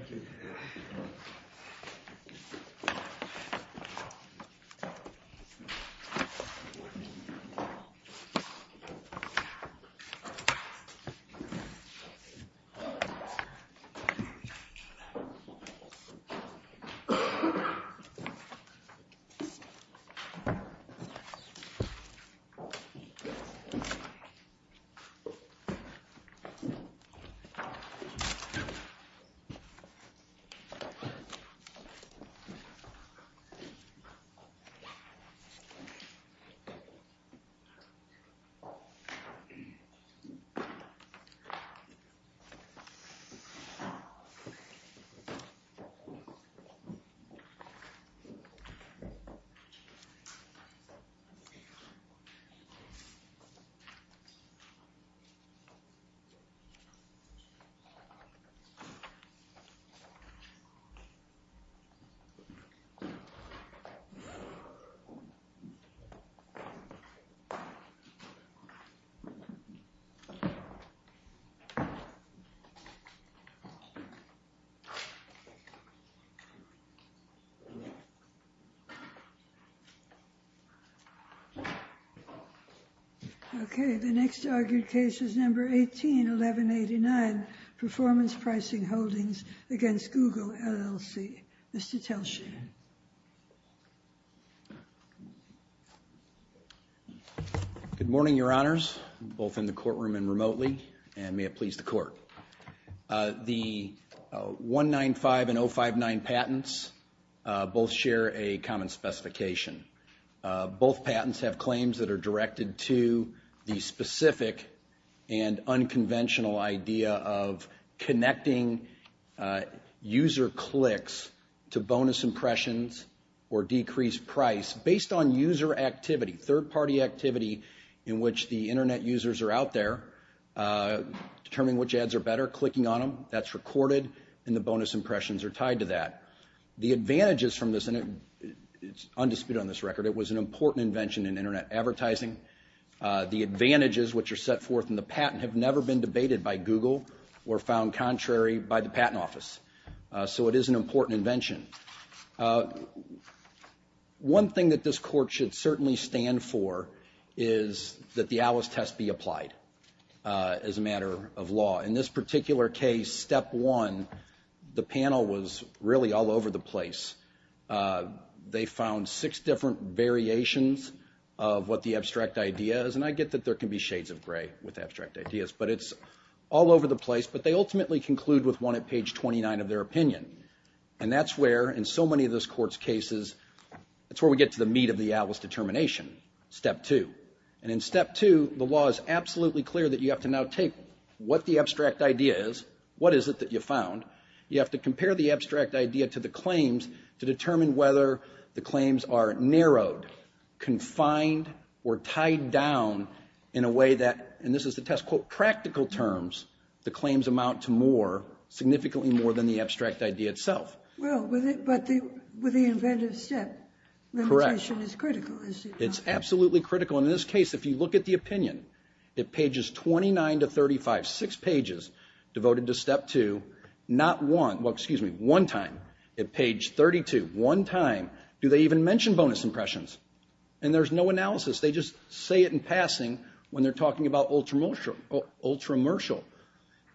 https://www.google.com Okay, the next argued case is number 181189, Performance Pricing Holdings v. Google LLC. against Google LLC. Mr. Telsche. Good morning, your honors, both in the courtroom and remotely, and may it please the court. The 195 and 059 patents both share a common specification. Both patents have claims that are directed to the specific and unconventional idea of connecting user clicks to bonus impressions or decreased price based on user activity, third-party activity in which the internet users are out there determining which ads are better, clicking on them, that's recorded, and the bonus impressions are tied to that. The advantages from this, and it it's undisputed on this record, it was an important invention in internet advertising. The advantages which are set forth in the patent have never been debated by Google or found contrary by the Patent Office, so it is an important invention. One thing that this court should certainly stand for is that the Alice test be applied as a matter of law. In this particular case, step one, the panel was really all over the place. They found six different variations of what the abstract idea is, and I get that there can be shades of gray with abstract ideas, but it's all over the place, but they ultimately conclude with one at page 29 of their opinion. And that's where, in so many of those courts' cases, that's where we get to the meat of the Alice determination, step two. And in step two, the law is absolutely clear that you have to now take what the abstract idea is, what is it that you found, you have to compare the abstract idea to the claims to determine whether the claims are narrowed, confined, or tied down in a way that, and this is the test quote, practical terms, the claims amount to more, significantly more than the abstract idea itself. Well, but with the inventive step, limitation is critical. It's absolutely critical. In this case, if you look at the opinion, it pages 29 to 35, six pages devoted to step two, not one, well, excuse me, one time. At page 32, one time, do they even mention bonus impressions? And there's no analysis. They just say it in passing when they're talking about ultramershal.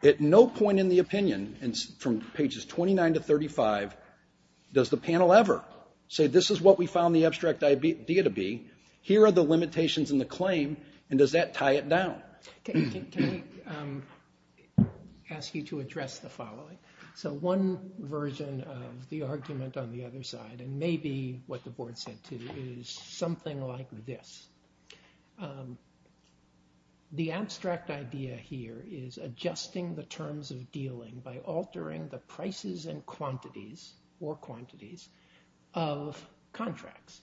At no point in the opinion, and from pages 29 to 35, does the panel ever say, this is what we found the abstract idea to be, here are the limitations in the claim, and does that tie it down? Can I ask you to address the following? So one version of the argument on the other side, and maybe what the board said too, is something like this. The abstract idea here is adjusting the terms of dealing by altering the prices and quantities, or quantities, of contracts.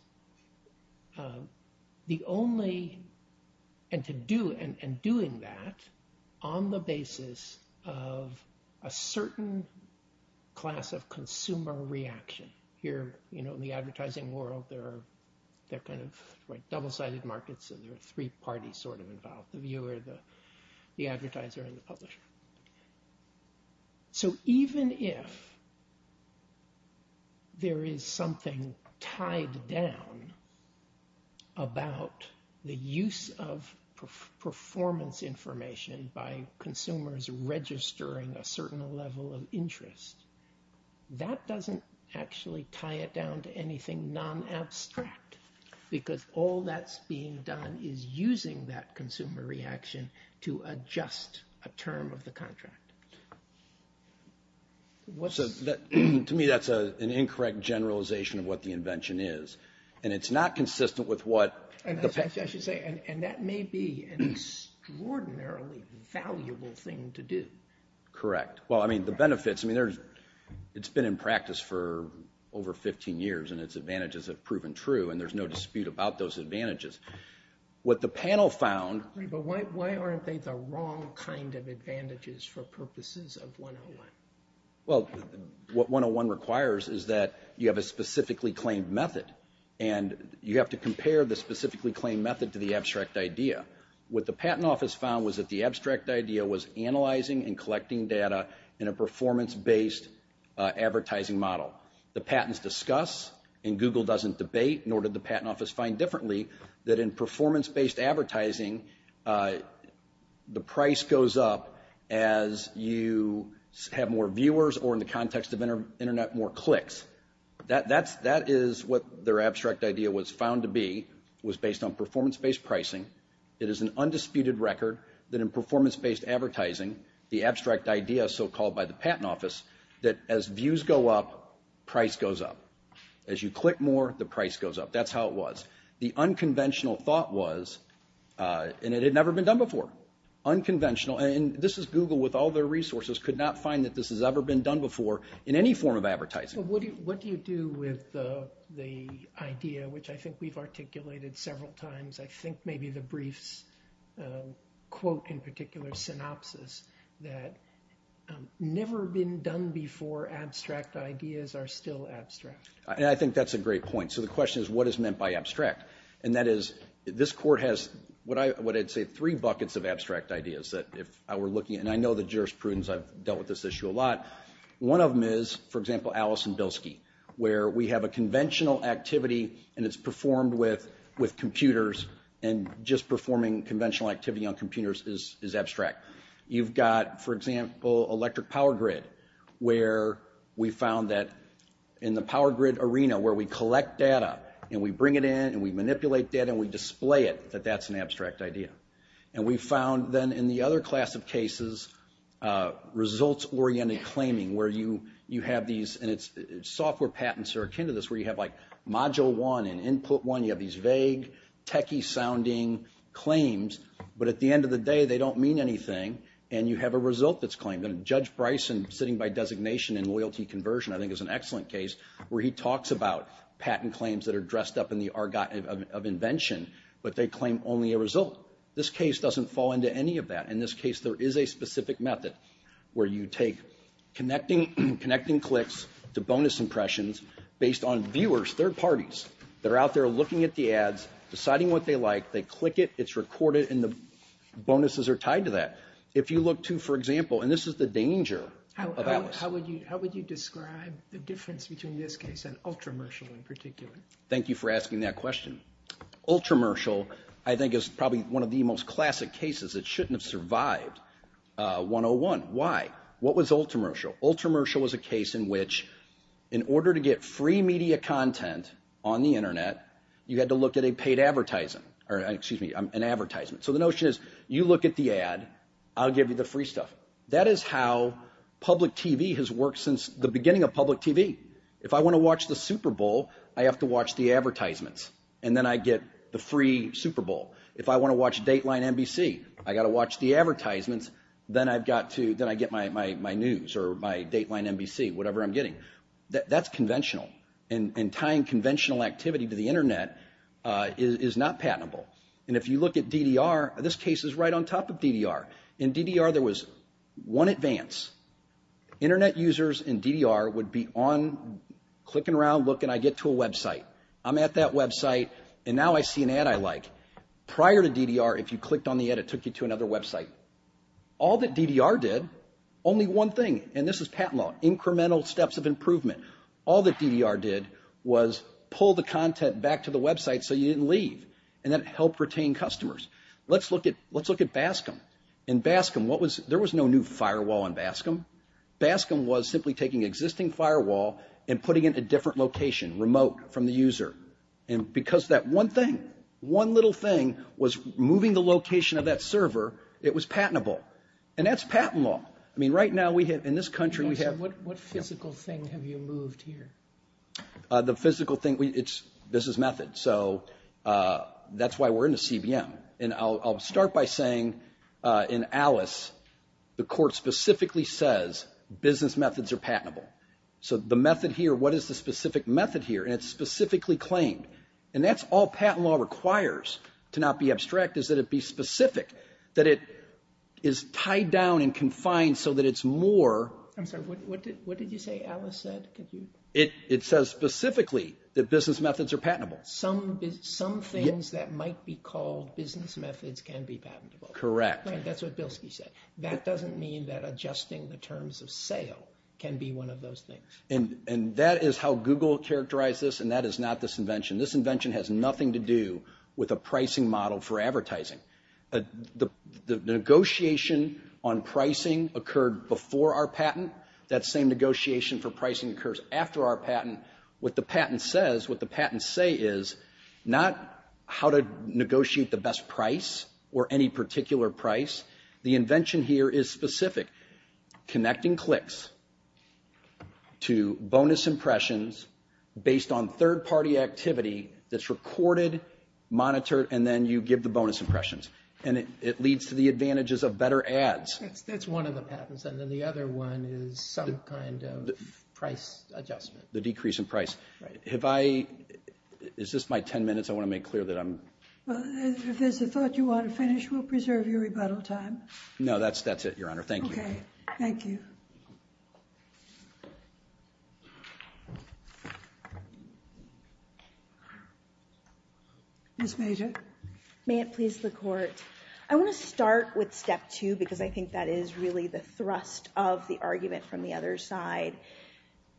The only, and to do, and doing that on the basis of a certain class of consumer reaction. Here, you know, in the advertising world, there are, they're kind of like double-sided markets, and there are three parties sort of involved, the viewer, the the advertiser, and the publisher. So even if there is something tied down about the use of performance information by consumers registering a certain level of interest, that doesn't actually tie it down to anything non-abstract. Because all that's being done is using that consumer reaction to adjust a term of the contract. To me, that's an incorrect generalization of what the invention is, and it's not consistent with what... I should say, and that may be an extraordinarily valuable thing to do. Correct. Well, I mean the benefits, I mean there's, it's been in practice for over 15 years, and its advantages have proven true, and there's no dispute about those advantages. What the panel found... But why aren't they the wrong kind of advantages for purposes of 101? Well, what 101 requires is that you have a specifically claimed method, and you have to compare the specifically claimed method to the abstract idea. What the Patent Office found was that the abstract idea was analyzing and collecting data in a performance-based advertising model. The patents discuss, and Google doesn't debate, nor did the Patent Office find differently, that in performance-based advertising, the price goes up as you have more viewers, or in the context of internet, more clicks. That is what their abstract idea was found to be, was based on performance-based pricing. It is an undisputed record that in performance-based advertising, the abstract idea, so called by the Patent Office, that as views go up, price goes up. As you click more, the price goes up. That's how it was. The unconventional thought was, and it had never been done before, unconventional, and this is Google with all their resources, could not find that this has ever been done before in any form of advertising. What do you do with the idea, which I think we've articulated several times, I think maybe the briefs quote in particular, synopsis, that never been done before, abstract ideas are still abstract. And I think that's a great point. So the question is, what is meant by abstract? And that is, this Court has what I would say three buckets of abstract ideas that if I were looking, and I know the jurisprudence, I've dealt with this issue a lot. One of them is, for example, Allison Bilski, where we have a conventional activity and it's performed with computers, and just performing conventional activity on computers is abstract. You've got, for example, electric power grid, where we found that in the power grid arena, where we collect data, and we bring it in, and we manipulate data, and we display it, that that's an abstract idea. And we found then in the other class of cases, results-oriented claiming, where you have these, and it's software patents are akin to this, where you have like Module 1 and Input 1, you have these vague, techie-sounding claims, but at the end of the day, they don't mean anything, and you have a result that's claimed. And Judge Bryson, sitting by designation and loyalty conversion, I think is an excellent case, where he talks about patent claims that are dressed up in the argot of invention, but they claim only a result. This case doesn't fall into any of that. In this case, there is a specific method, where you take connecting clicks to bonus impressions, based on viewers, third parties, that are out there looking at the ads, deciding what they like, they click it, it's recorded, and the bonuses are tied to that. If you look to, for example, and this is the danger of Alice. How would you describe the difference between this case and Ultramershal, in particular? Thank you for asking that question. Ultramershal, I think, is probably one of the most classic cases. It shouldn't have survived 101. Why? What was Ultramershal? Ultramershal was a case in which, in order to get free media content on the internet, you had to look at a paid advertising, or excuse me, an advertisement. So the notion is, you look at the ad, I'll give you the free stuff. That is how public TV has worked since the beginning of public TV. If I want to watch the Super Bowl, I have to watch the advertisements, and then I get the free Super Bowl. If I want to watch Dateline NBC, I got to watch the advertisements, then I've got to, then I get my news, or my Dateline NBC, whatever I'm getting. That's conventional, and tying conventional activity to the internet is not patentable. And if you look at DDR, this case is right on top of DDR. In DDR, there was one advance. Internet users in DDR would be on, clicking around, looking, I get to a website. I'm at that website, and now I see an ad I like. Prior to DDR, if you clicked on the ad, it took you to another website. All that DDR did, only one thing, and this is patent law, incremental steps of improvement. All that DDR did was pull the content back to the website, so you didn't leave, and that helped retain customers. Let's look at, let's look at Bascom. In Bascom, what was, there was no new firewall in Bascom. Bascom was simply taking existing firewall and putting in a different location, remote, from the user. And the little thing was moving the location of that server. It was patentable, and that's patent law. I mean, right now, we have, in this country, we have. What physical thing have you moved here? The physical thing, it's business method, so that's why we're in the CBM. And I'll start by saying, in Alice, the court specifically says business methods are patentable. So the method here, what is the specific method here? And it's specifically claimed, and that's all patent law requires. To not be abstract, is that it be specific, that it is tied down and confined so that it's more. I'm sorry, what did, what did you say Alice said? It, it says specifically that business methods are patentable. Some, some things that might be called business methods can be patentable. Correct. That's what Bilski said. That doesn't mean that adjusting the terms of sale can be one of those things. And, and that is how Google characterized this, and that is not this invention. This invention has nothing to do with a pricing model for advertising. The, the negotiation on pricing occurred before our patent. That same negotiation for pricing occurs after our patent. What the patent says, what the patents say is, not how to negotiate the best price or any particular price. The invention here is specific. Connecting clicks to bonus impressions based on third-party activity that's recorded, monitored, and then you give the bonus impressions. And it, it leads to the advantages of better ads. That's one of the patents. And then the other one is some kind of price adjustment. The decrease in price. Have I, is this my 10 minutes? I want to make clear that I'm. Well, if there's a thought you want to finish, we'll preserve your rebuttal time. No, that's, that's it, your honor. Thank you. Thank you. Thank you. Ms. Major. May it please the court. I want to start with step two, because I think that is really the thrust of the argument from the other side.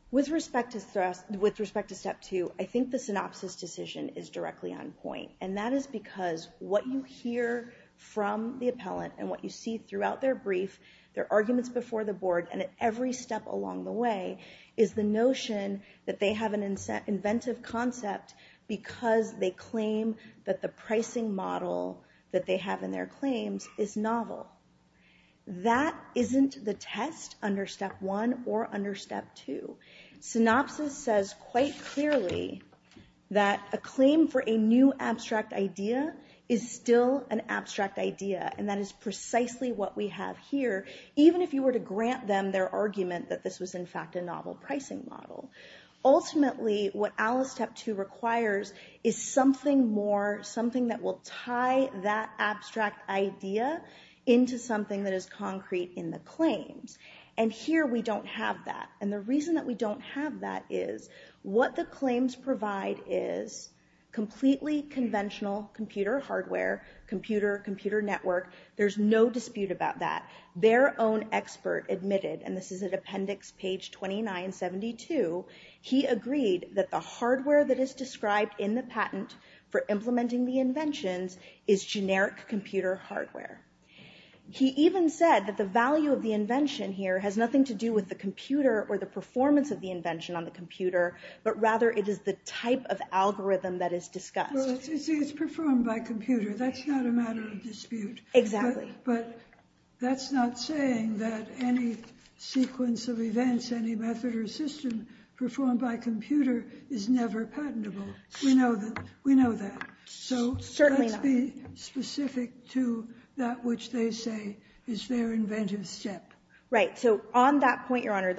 With respect to thrust, with respect to step two, I think the synopsis decision is directly on point. And that is because what you hear from the appellant, and what you see throughout their brief, their arguments before the board, and at every step along the way, is the notion that they have an inventive concept because they claim that the pricing model that they have in their claims is novel. That isn't the test under step one or under step two. Synopsis says quite clearly that a claim for a new abstract idea is still an abstract idea. And that is precisely what we have here, even if you were to grant them their argument that this was in fact a novel pricing model. Ultimately, what Alice step two requires is something more, something that will tie that abstract idea into something that is concrete in the claims. And here we don't have that. And the reason that we don't have that is what the claims provide is completely conventional computer hardware, computer, computer network. There's no dispute about that. Their own expert admitted, and this is at appendix page 2972, he agreed that the hardware that is described in the patent for implementing the inventions is generic computer hardware. He even said that the value of the invention here has nothing to do with the computer or the performance of the invention on the discussed. Well, it's performed by computer. That's not a matter of dispute. Exactly. But that's not saying that any sequence of events, any method or system performed by a computer is never patentable. We know that. So let's be specific to that which they say is their inventive step. Right. So on that point, Your Honor,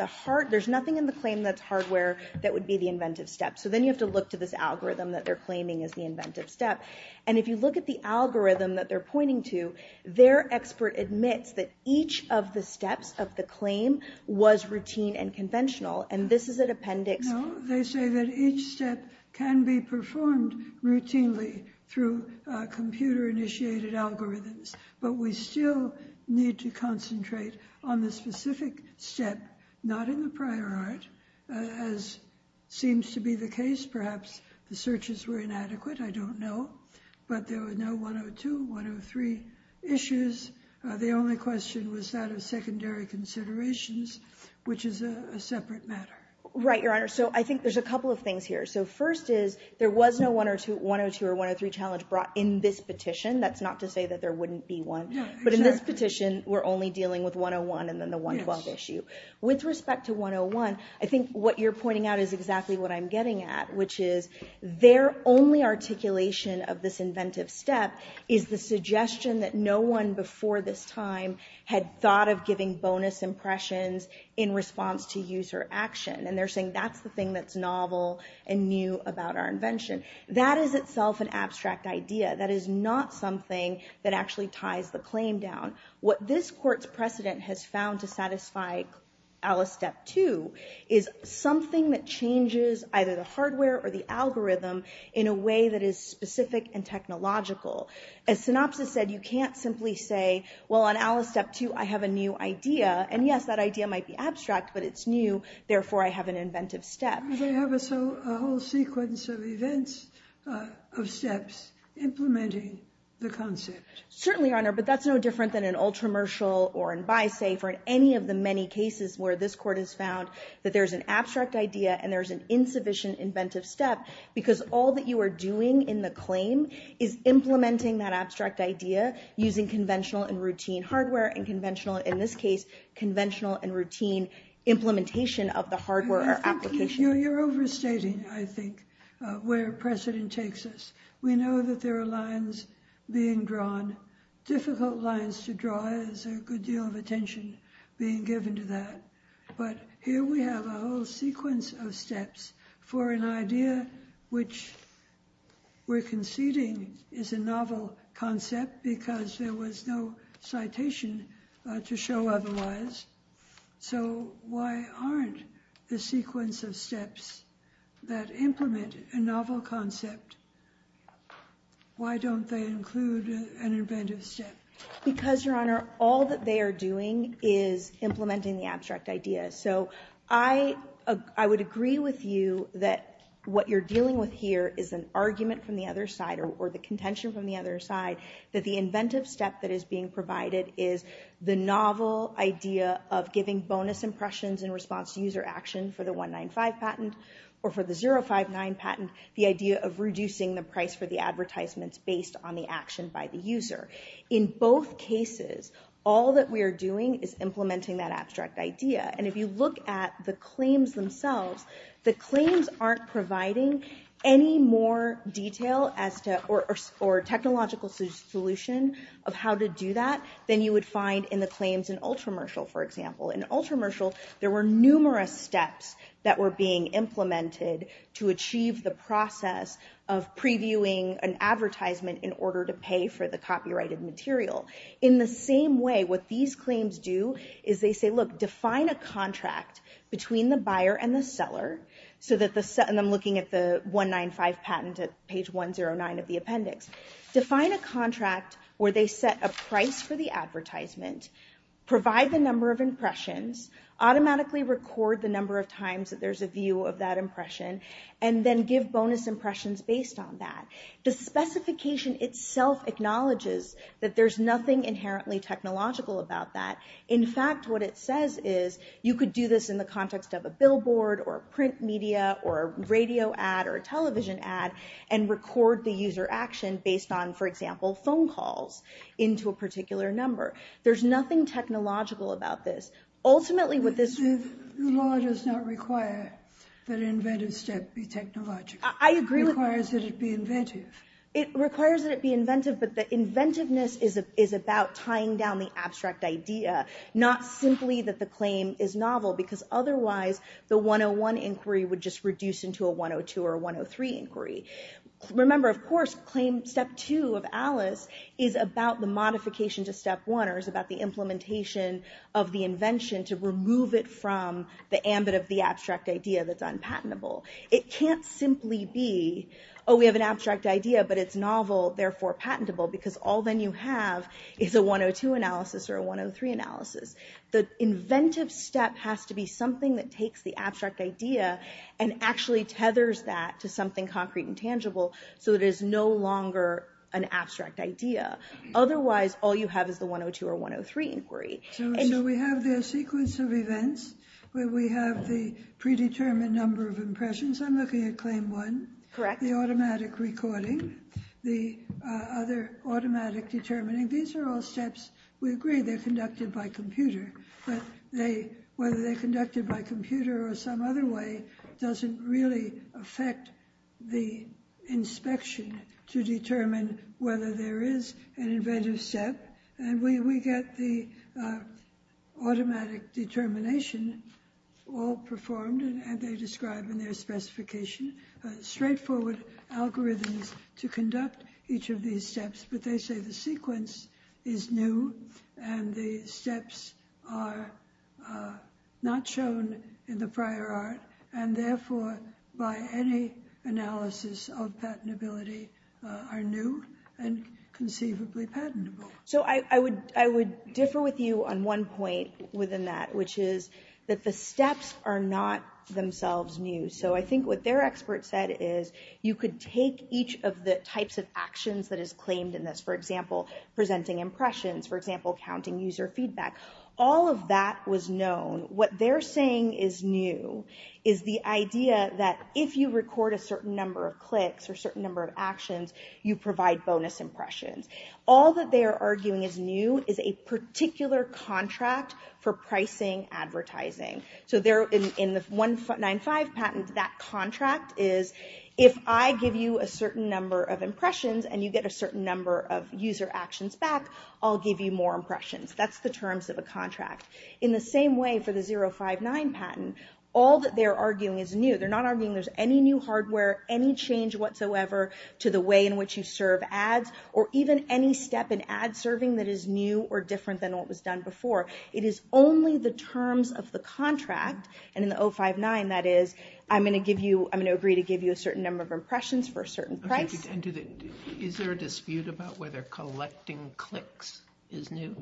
there's nothing in the claim that's hardware that would be the inventive step. So then you have to look to this algorithm that they're claiming is the inventive step. And if you look at the algorithm that they're pointing to, their expert admits that each of the steps of the claim was routine and conventional. And this is an appendix. They say that each step can be performed routinely through computer initiated algorithms, but we still need to concentrate on the specific step, not in the prior art, as seems to be the case. Perhaps the searches were inadequate. I don't know. But there were no 102, 103 issues. The only question was that of secondary considerations, which is a separate matter. Right, Your Honor. So I think there's a couple of things here. So first is there was no 102 or 103 challenge brought in this petition. That's not to say that there wouldn't be one. But in this petition, we're only dealing with 101 and then the 112 issue. With respect to 101, I think what you're pointing out is exactly what I'm getting at, which is their only articulation of this inventive step is the suggestion that no one before this time had thought of giving bonus impressions in response to user action. And they're saying that's the thing that's novel and new about our invention. That is itself an abstract idea. That is not something that actually ties the claim down. What this court's precedent has found to satisfy Alice Step 2 is something that changes either the hardware or the algorithm in a way that is specific and technological. As synopsis said, you can't simply say, well, on Alice Step 2, I have a new idea. And yes, that idea might be abstract, but it's new. Therefore, I have an inventive step. Do they have a whole sequence of events of steps implementing the concept? Certainly, Your Honor. But that's no different than in Ultramershal or in BiSafe or in any of the many cases where this court has found that there's an abstract idea and there's an insufficient inventive step because all that you are doing in the claim is implementing that abstract idea using conventional and routine hardware and conventional, in this case, conventional and routine implementation of the hardware or application. You're overstating, I think, where precedent takes us. We know that there are lines being drawn difficult lines to draw. There's a good deal of attention being given to that. But here we have a whole sequence of steps for an idea which we're conceding is a novel concept because there was no citation to show otherwise. So why aren't the sequence of steps that implement a novel concept, why don't they include an inventive step? Because, Your Honor, all that they are doing is implementing the abstract idea. So I would agree with you that what you're dealing with here is an argument from the other side or the contention from the other side that the inventive step that is being provided is the novel idea of giving bonus impressions in response to user action for the 195 patent or for the 059 patent, the idea of reducing the price for the advertisements based on the action by the user. In both cases, all that we are doing is implementing that abstract idea. And if you look at the claims themselves, the claims aren't providing any more detail as to or technological solution of how to do that than you would find in the claims in Ultramershal, for example. In Ultramershal, there were numerous steps that were being implemented to achieve the process of previewing an advertisement in order to pay for the copyrighted material. In the same way, what these claims do is they say, look, define a contract between the buyer and the seller, and I'm looking at the 195 patent at page 109 of the appendix. Define a contract where they set a price for the advertisement, provide the number of impressions, automatically record the number of times that there's a view of that impression, and then give bonus impressions based on that. The specification itself acknowledges that there's nothing inherently technological about that. In fact, what it says is you could do this in the context of a billboard or print media or radio ad or a television ad and record the user action based on, for example, phone calls into a particular number. There's nothing technological about this. Ultimately with this... The law does not require that an inventive step be technological. I agree. It requires that it be inventive. It requires that it be inventive, but the inventiveness is about tying down the abstract idea, not simply that the claim is novel because otherwise the 101 inquiry would just reduce into a 102 or 103 inquiry. Remember, of course, claim step two of Alice is about the modification to step one or is about the implementation of the invention to remove it from the ambit of the abstract idea that's unpatentable. It can't simply be, oh, we have an abstract idea, but it's novel, therefore patentable, because all then you have is a 102 analysis or a 103 analysis. The inventive step has to be something that takes the abstract idea and actually tethers that to something concrete and tangible so it is no longer an abstract idea. Otherwise, all you have is the 102 or 103 inquiry. So we have the sequence of events where we have the predetermined number of impressions. I'm looking at claim one. Correct. The automatic recording. The other automatic determining. These are all steps. We agree they're conducted by computer, but whether they're conducted by computer or some other way doesn't really affect the inspection to determine whether there is an inventive step. And we get the automatic determination all performed, and they describe in their specification straightforward algorithms to conduct each of these steps, but they say the sequence is new and the steps are not shown in the prior art and therefore by any analysis of patentability are new and conceivably patentable. So I would differ with you on one point within that, which is that the steps are not themselves new. So I think what their expert said is you could take each of the types of actions that is claimed in this, for example, presenting impressions, for example, counting user feedback. All of that was known. What they're saying is new is the idea that if you record a certain number of clicks or certain number of actions, you provide bonus impressions. All that they are arguing is new is a particular contract for pricing advertising. So there in the 195 patent, that contract is if I give you a certain number of impressions and you get a certain number of user actions back, I'll give you more impressions. That's the terms of a contract. In the same way for the 059 patent, all that they're arguing is new. They're not arguing there's any new hardware, any change whatsoever to the way in which you serve ads, or even any step in ad serving that is new or different than what was done before. It is only the terms of the contract, and in the 059, that is, I'm going to give you, I'm going to agree to give you a certain number of impressions for a certain price. Is there a dispute about whether collecting clicks is new?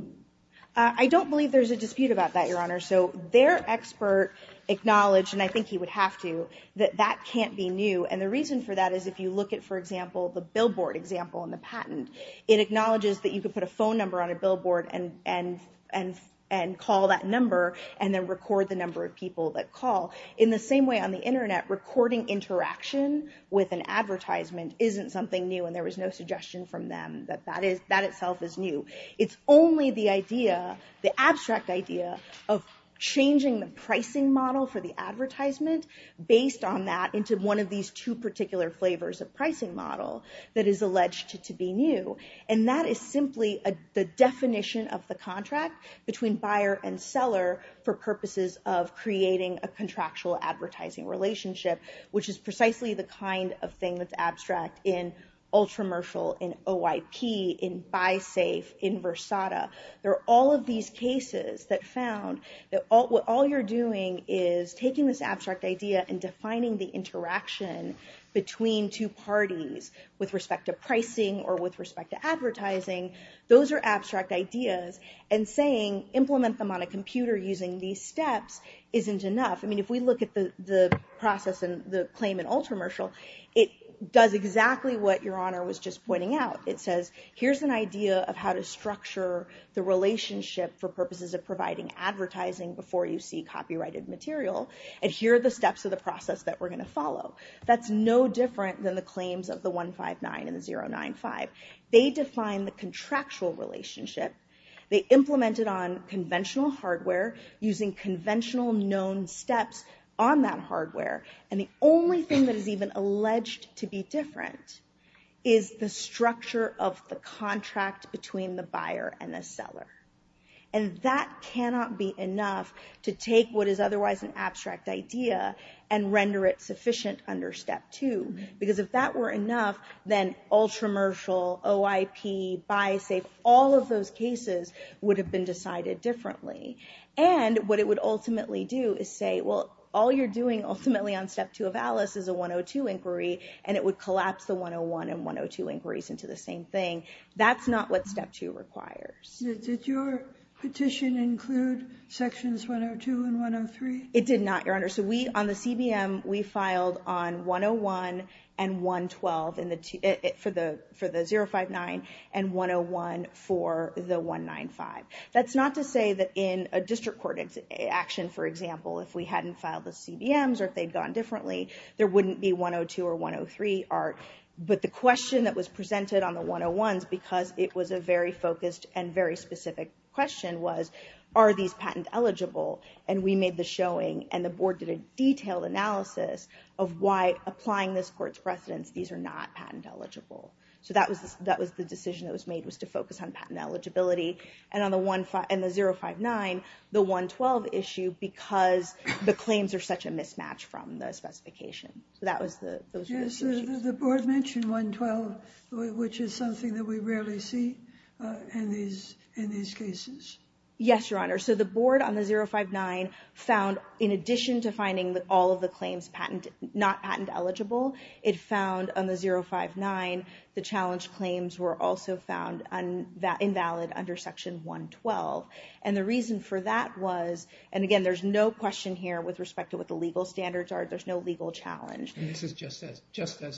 I don't believe there's a dispute about that, Your Honor. So their expert acknowledged, and I think he would have to, that that can't be new. And the reason for that is if you look at, for example, the billboard example in the patent, it acknowledges that you could put a phone number on a billboard and call that number, and then record the number of people that call. In the same way on the internet, recording interaction with an advertisement isn't something new, and there was no suggestion from them that that itself is new. It's only the idea, the abstract idea, of changing the pricing model for the advertisement based on that into one of these two particular flavors of pricing model that is alleged to be new. And that is simply the definition of the contract between buyer and seller for purposes of creating a contractual advertising relationship, which is precisely the kind of thing that's abstract in Ultramershal, in OIP, in BuySafe, in Versata. There are all of these cases that found that what all you're doing is taking this abstract idea and defining the interaction between two parties with respect to pricing or with respect to advertising. Those are abstract ideas, and saying implement them on a computer using these steps isn't enough. I mean, if we look at the process and the claim in Ultramershal, it does exactly what Your Honor was just pointing out. It says, here's an idea of how to structure the relationship for purposes of providing advertising before you see copyrighted material. And here are the steps of the process that we're going to follow. That's no different than the claims of the 159 and the 095. They define the contractual relationship. They implement it on conventional hardware using conventional known steps on that hardware. And the only thing that is even alleged to be different is the structure of the contract between the buyer and the seller. And that cannot be enough to take what is otherwise an abstract idea and render it sufficient under step two. Because if that were enough, then Ultramershal, OIP, BuySafe, all of those cases would have been decided differently. And what it would ultimately do is say, well, all you're doing ultimately on step two of Alice is a 102 inquiry, and it would collapse the 101 and 102 inquiries into the same thing. That's not what step two requires. Did your petition include sections 102 and 103? It did not, Your Honor. So we, on the CBM, we filed on 101 and 112 for the 059 and 101 for the 195. That's not to say that in a district court action, for example, if we hadn't filed the CBMs or if they'd gone differently, there wouldn't be 102 or 103 art. But the question that was presented on the 101s, because it was a very focused and very specific question, was are these patent eligible? And we made the showing and the board did a detailed analysis of why, applying this court's precedence, these are not patent eligible. So that was the decision that was made, was to focus on patent eligibility. And on the 059, the 112 issue, because the claims are such a mismatch from the specification. So that was the... Yes, the board mentioned 112, which is something that we rarely see in these cases. Yes, Your Honor. So the board on the 059 found, in addition to finding that all of the claims patent, not patent eligible, it found on the 059, the challenge claims were also found invalid under section 112. And the reason for that was, and again, there's no question here with respect to what the legal standards are. There's no legal challenge. And this is just as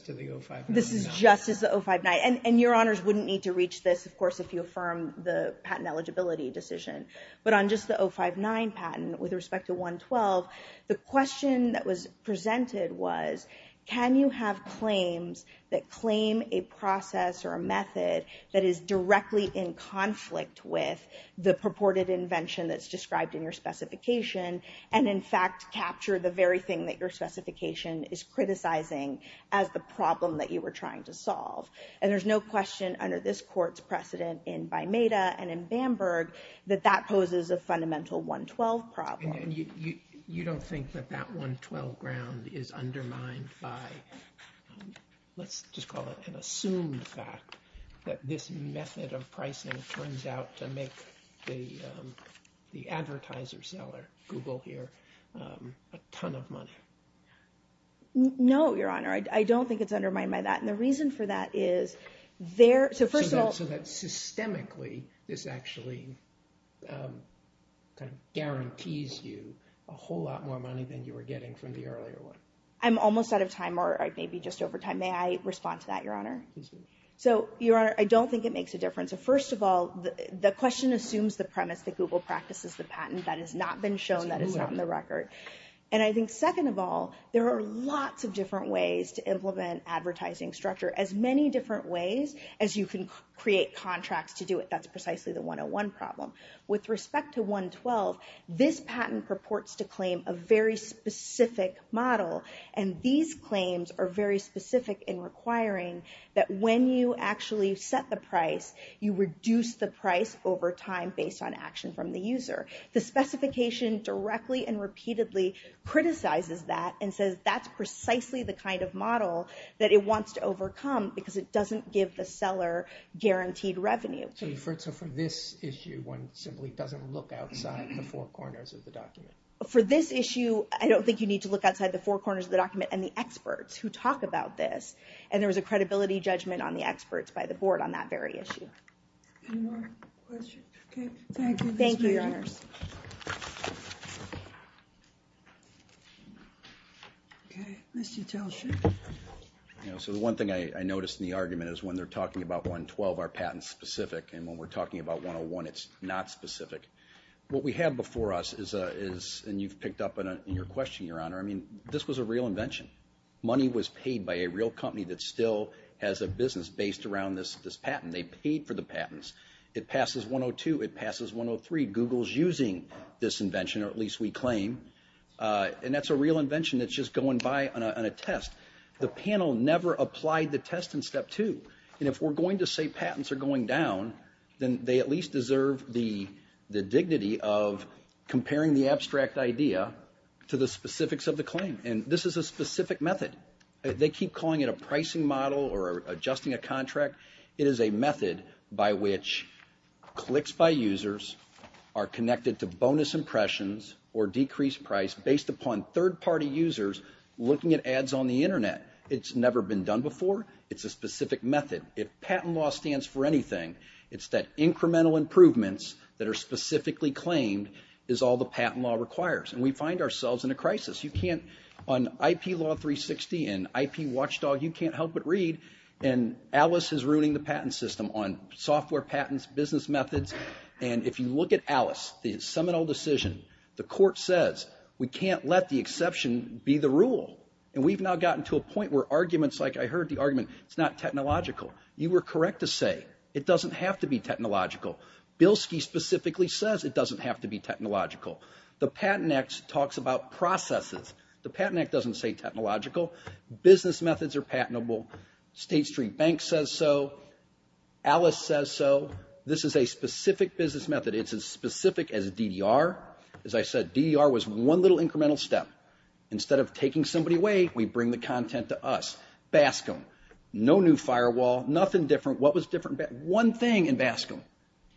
to the 059. This is just as the 059. And Your Honors wouldn't need to reach this, of course, if you affirm the patent eligibility decision. But on just the 059 patent, with respect to 112, the question that was presented was can you have claims that claim a process or a method that is directly in conflict with the purported invention that's described in your specification, and in fact capture the very thing that your specification is criticizing as the problem that you were trying to solve? And there's no question under this court's precedent in Baimeda and in Bamberg that that poses a fundamental 112 problem. You don't think that that 112 ground is undermined by let's just call it an assumed fact that this method of pricing turns out to make the Google here a ton of money? No, Your Honor, I don't think it's undermined by that. And the reason for that is there, so first of all, so that systemically this actually kind of guarantees you a whole lot more money than you were getting from the earlier one. I'm almost out of time or maybe just over time. May I respond to that, Your Honor? So, Your Honor, I don't think it makes a difference. First of all, the question assumes the premise that Google practices the patent that has not been shown that it's on the record. And I think second of all, there are lots of different ways to implement advertising structure, as many different ways as you can create contracts to do it. That's precisely the 101 problem. With respect to 112, this patent purports to claim a very specific model, and these claims are very specific in requiring that when you actually set the price, you reduce the price over time based on action from the user. The specification directly and repeatedly criticizes that and says that's precisely the kind of model that it wants to overcome because it doesn't give the seller guaranteed revenue. So for this issue, one simply doesn't look outside the four corners of the document. For this issue, I don't think you need to look outside the four corners of the document and the experts who talk about this. And there was a credibility judgment on the experts by the board on that very issue. You know, so the one thing I noticed in the argument is when they're talking about 112, are patents specific, and when we're talking about 101, it's not specific. What we have before us is, and you've picked up on your question, Your Honor, I mean, this was a real invention. Money was paid by a real company that still has a business based around this patent. They paid for the patents. It passes 102. It passes 103. Google's using this invention, or at least we claim. And that's a real invention that's just going by on a test. The panel never applied the test in step two, and if we're going to say patents are going down, then they at least deserve the dignity of to the specifics of the claim. And this is a specific method. They keep calling it a pricing model or adjusting a contract. It is a method by which clicks by users are connected to bonus impressions or decreased price based upon third-party users looking at ads on the internet. It's never been done before. It's a specific method. If patent law stands for anything, it's that incremental improvements that are specifically claimed is all the patent law requires, and we find ourselves in a crisis. You can't, on IP law 360 and IP watchdog, you can't help but read, and Alice is ruining the patent system on software patents, business methods, and if you look at Alice, the seminal decision, the court says we can't let the exception be the rule. And we've now gotten to a point where arguments, like I heard the argument, it's not technological. You were correct to say it doesn't have to be technological. Bilski specifically says it doesn't have to be technological. The Patent Act talks about processes. The Patent Act doesn't say technological. Business methods are patentable. State Street Bank says so. Alice says so. This is a specific business method. It's as specific as DDR. As I said, DDR was one little incremental step. Instead of taking somebody away, we bring the content to us. Baskin, no new firewall, nothing different. What was different? One thing in Baskin,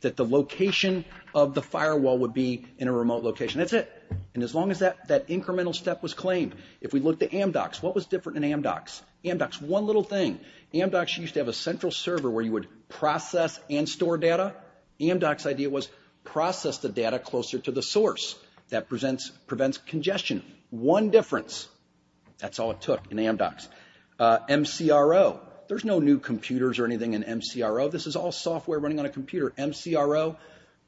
that the location of the firewall would be in a remote location. That's it. And as long as that incremental step was claimed, if we look to Amdocs, what was different in Amdocs? Amdocs, one little thing. Amdocs used to have a central server where you would process and store data. Amdocs idea was process the data closer to the source. That prevents congestion. One difference. That's all it took in Amdocs. MCRO. There's no new computers or anything in MCRO. This is all software running on a computer. MCRO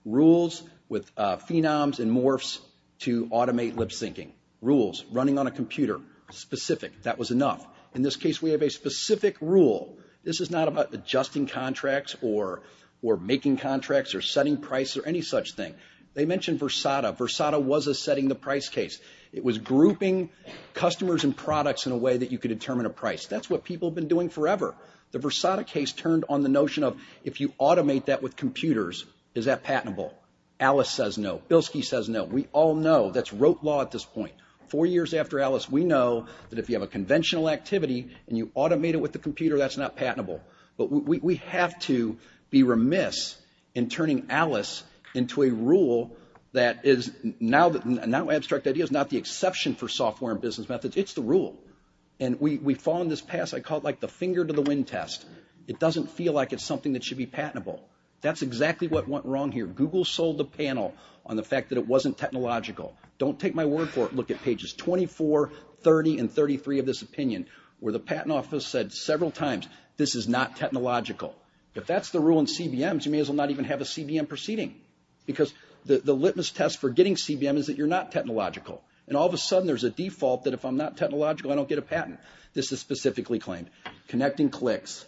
rules with phenoms and morphs to automate lip-syncing. Rules running on a computer. Specific. That was enough. In this case, we have a specific rule. This is not about adjusting contracts or making contracts or setting price or any such thing. They mentioned Versada. Versada was a setting the price case. It was grouping customers and products in a way that you could determine a price. That's what people have been doing forever. The Versada case turned on the notion of if you automate that with computers, is that patentable? Alice says no. Bilski says no. We all know that's rote law at this point. Four years after Alice, we know that if you have a conventional activity and you automate it with the computer, that's not patentable. But we have to be remiss in turning Alice into a rule that is now that now abstract idea is not the exception for software and business methods. It's the rule. And we found this past, I call it like the finger to the wind test. It doesn't feel like it's something that should be patentable. That's exactly what went wrong here. Google sold the panel on the fact that it wasn't technological. Don't take my word for it. Look at pages 24, 30, and 33 of this opinion where the Patent Office said several times, this is not technological. If that's the rule in CBMs, you may as well not even have a CBM proceeding. Because the litmus test for getting CBM is that you're not technological. And all of a sudden, there's a default that if I'm not technological, I don't get a patent. This is specifically claimed. Connecting clicks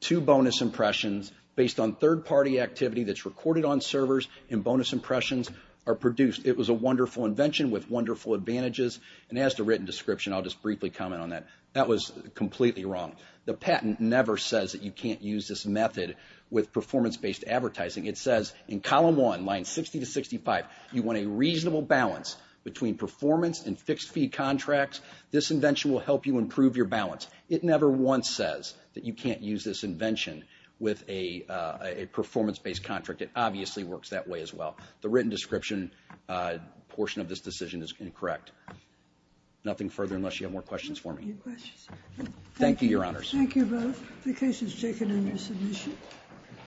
to bonus impressions based on third party activity that's recorded on servers and bonus impressions are produced. It was a wonderful invention with wonderful advantages. And as to written description, I'll just briefly comment on that. That was completely wrong. The patent never says that you can't use this method with performance-based advertising. It says in column one, line 60 to 65, you want a reasonable balance between performance and fixed fee contracts. This invention will help you improve your balance. It never once says that you can't use this invention with a performance-based contract. It obviously works that way as well. The written description portion of this decision is incorrect. Nothing further unless you have more questions for me. Thank you, your honors.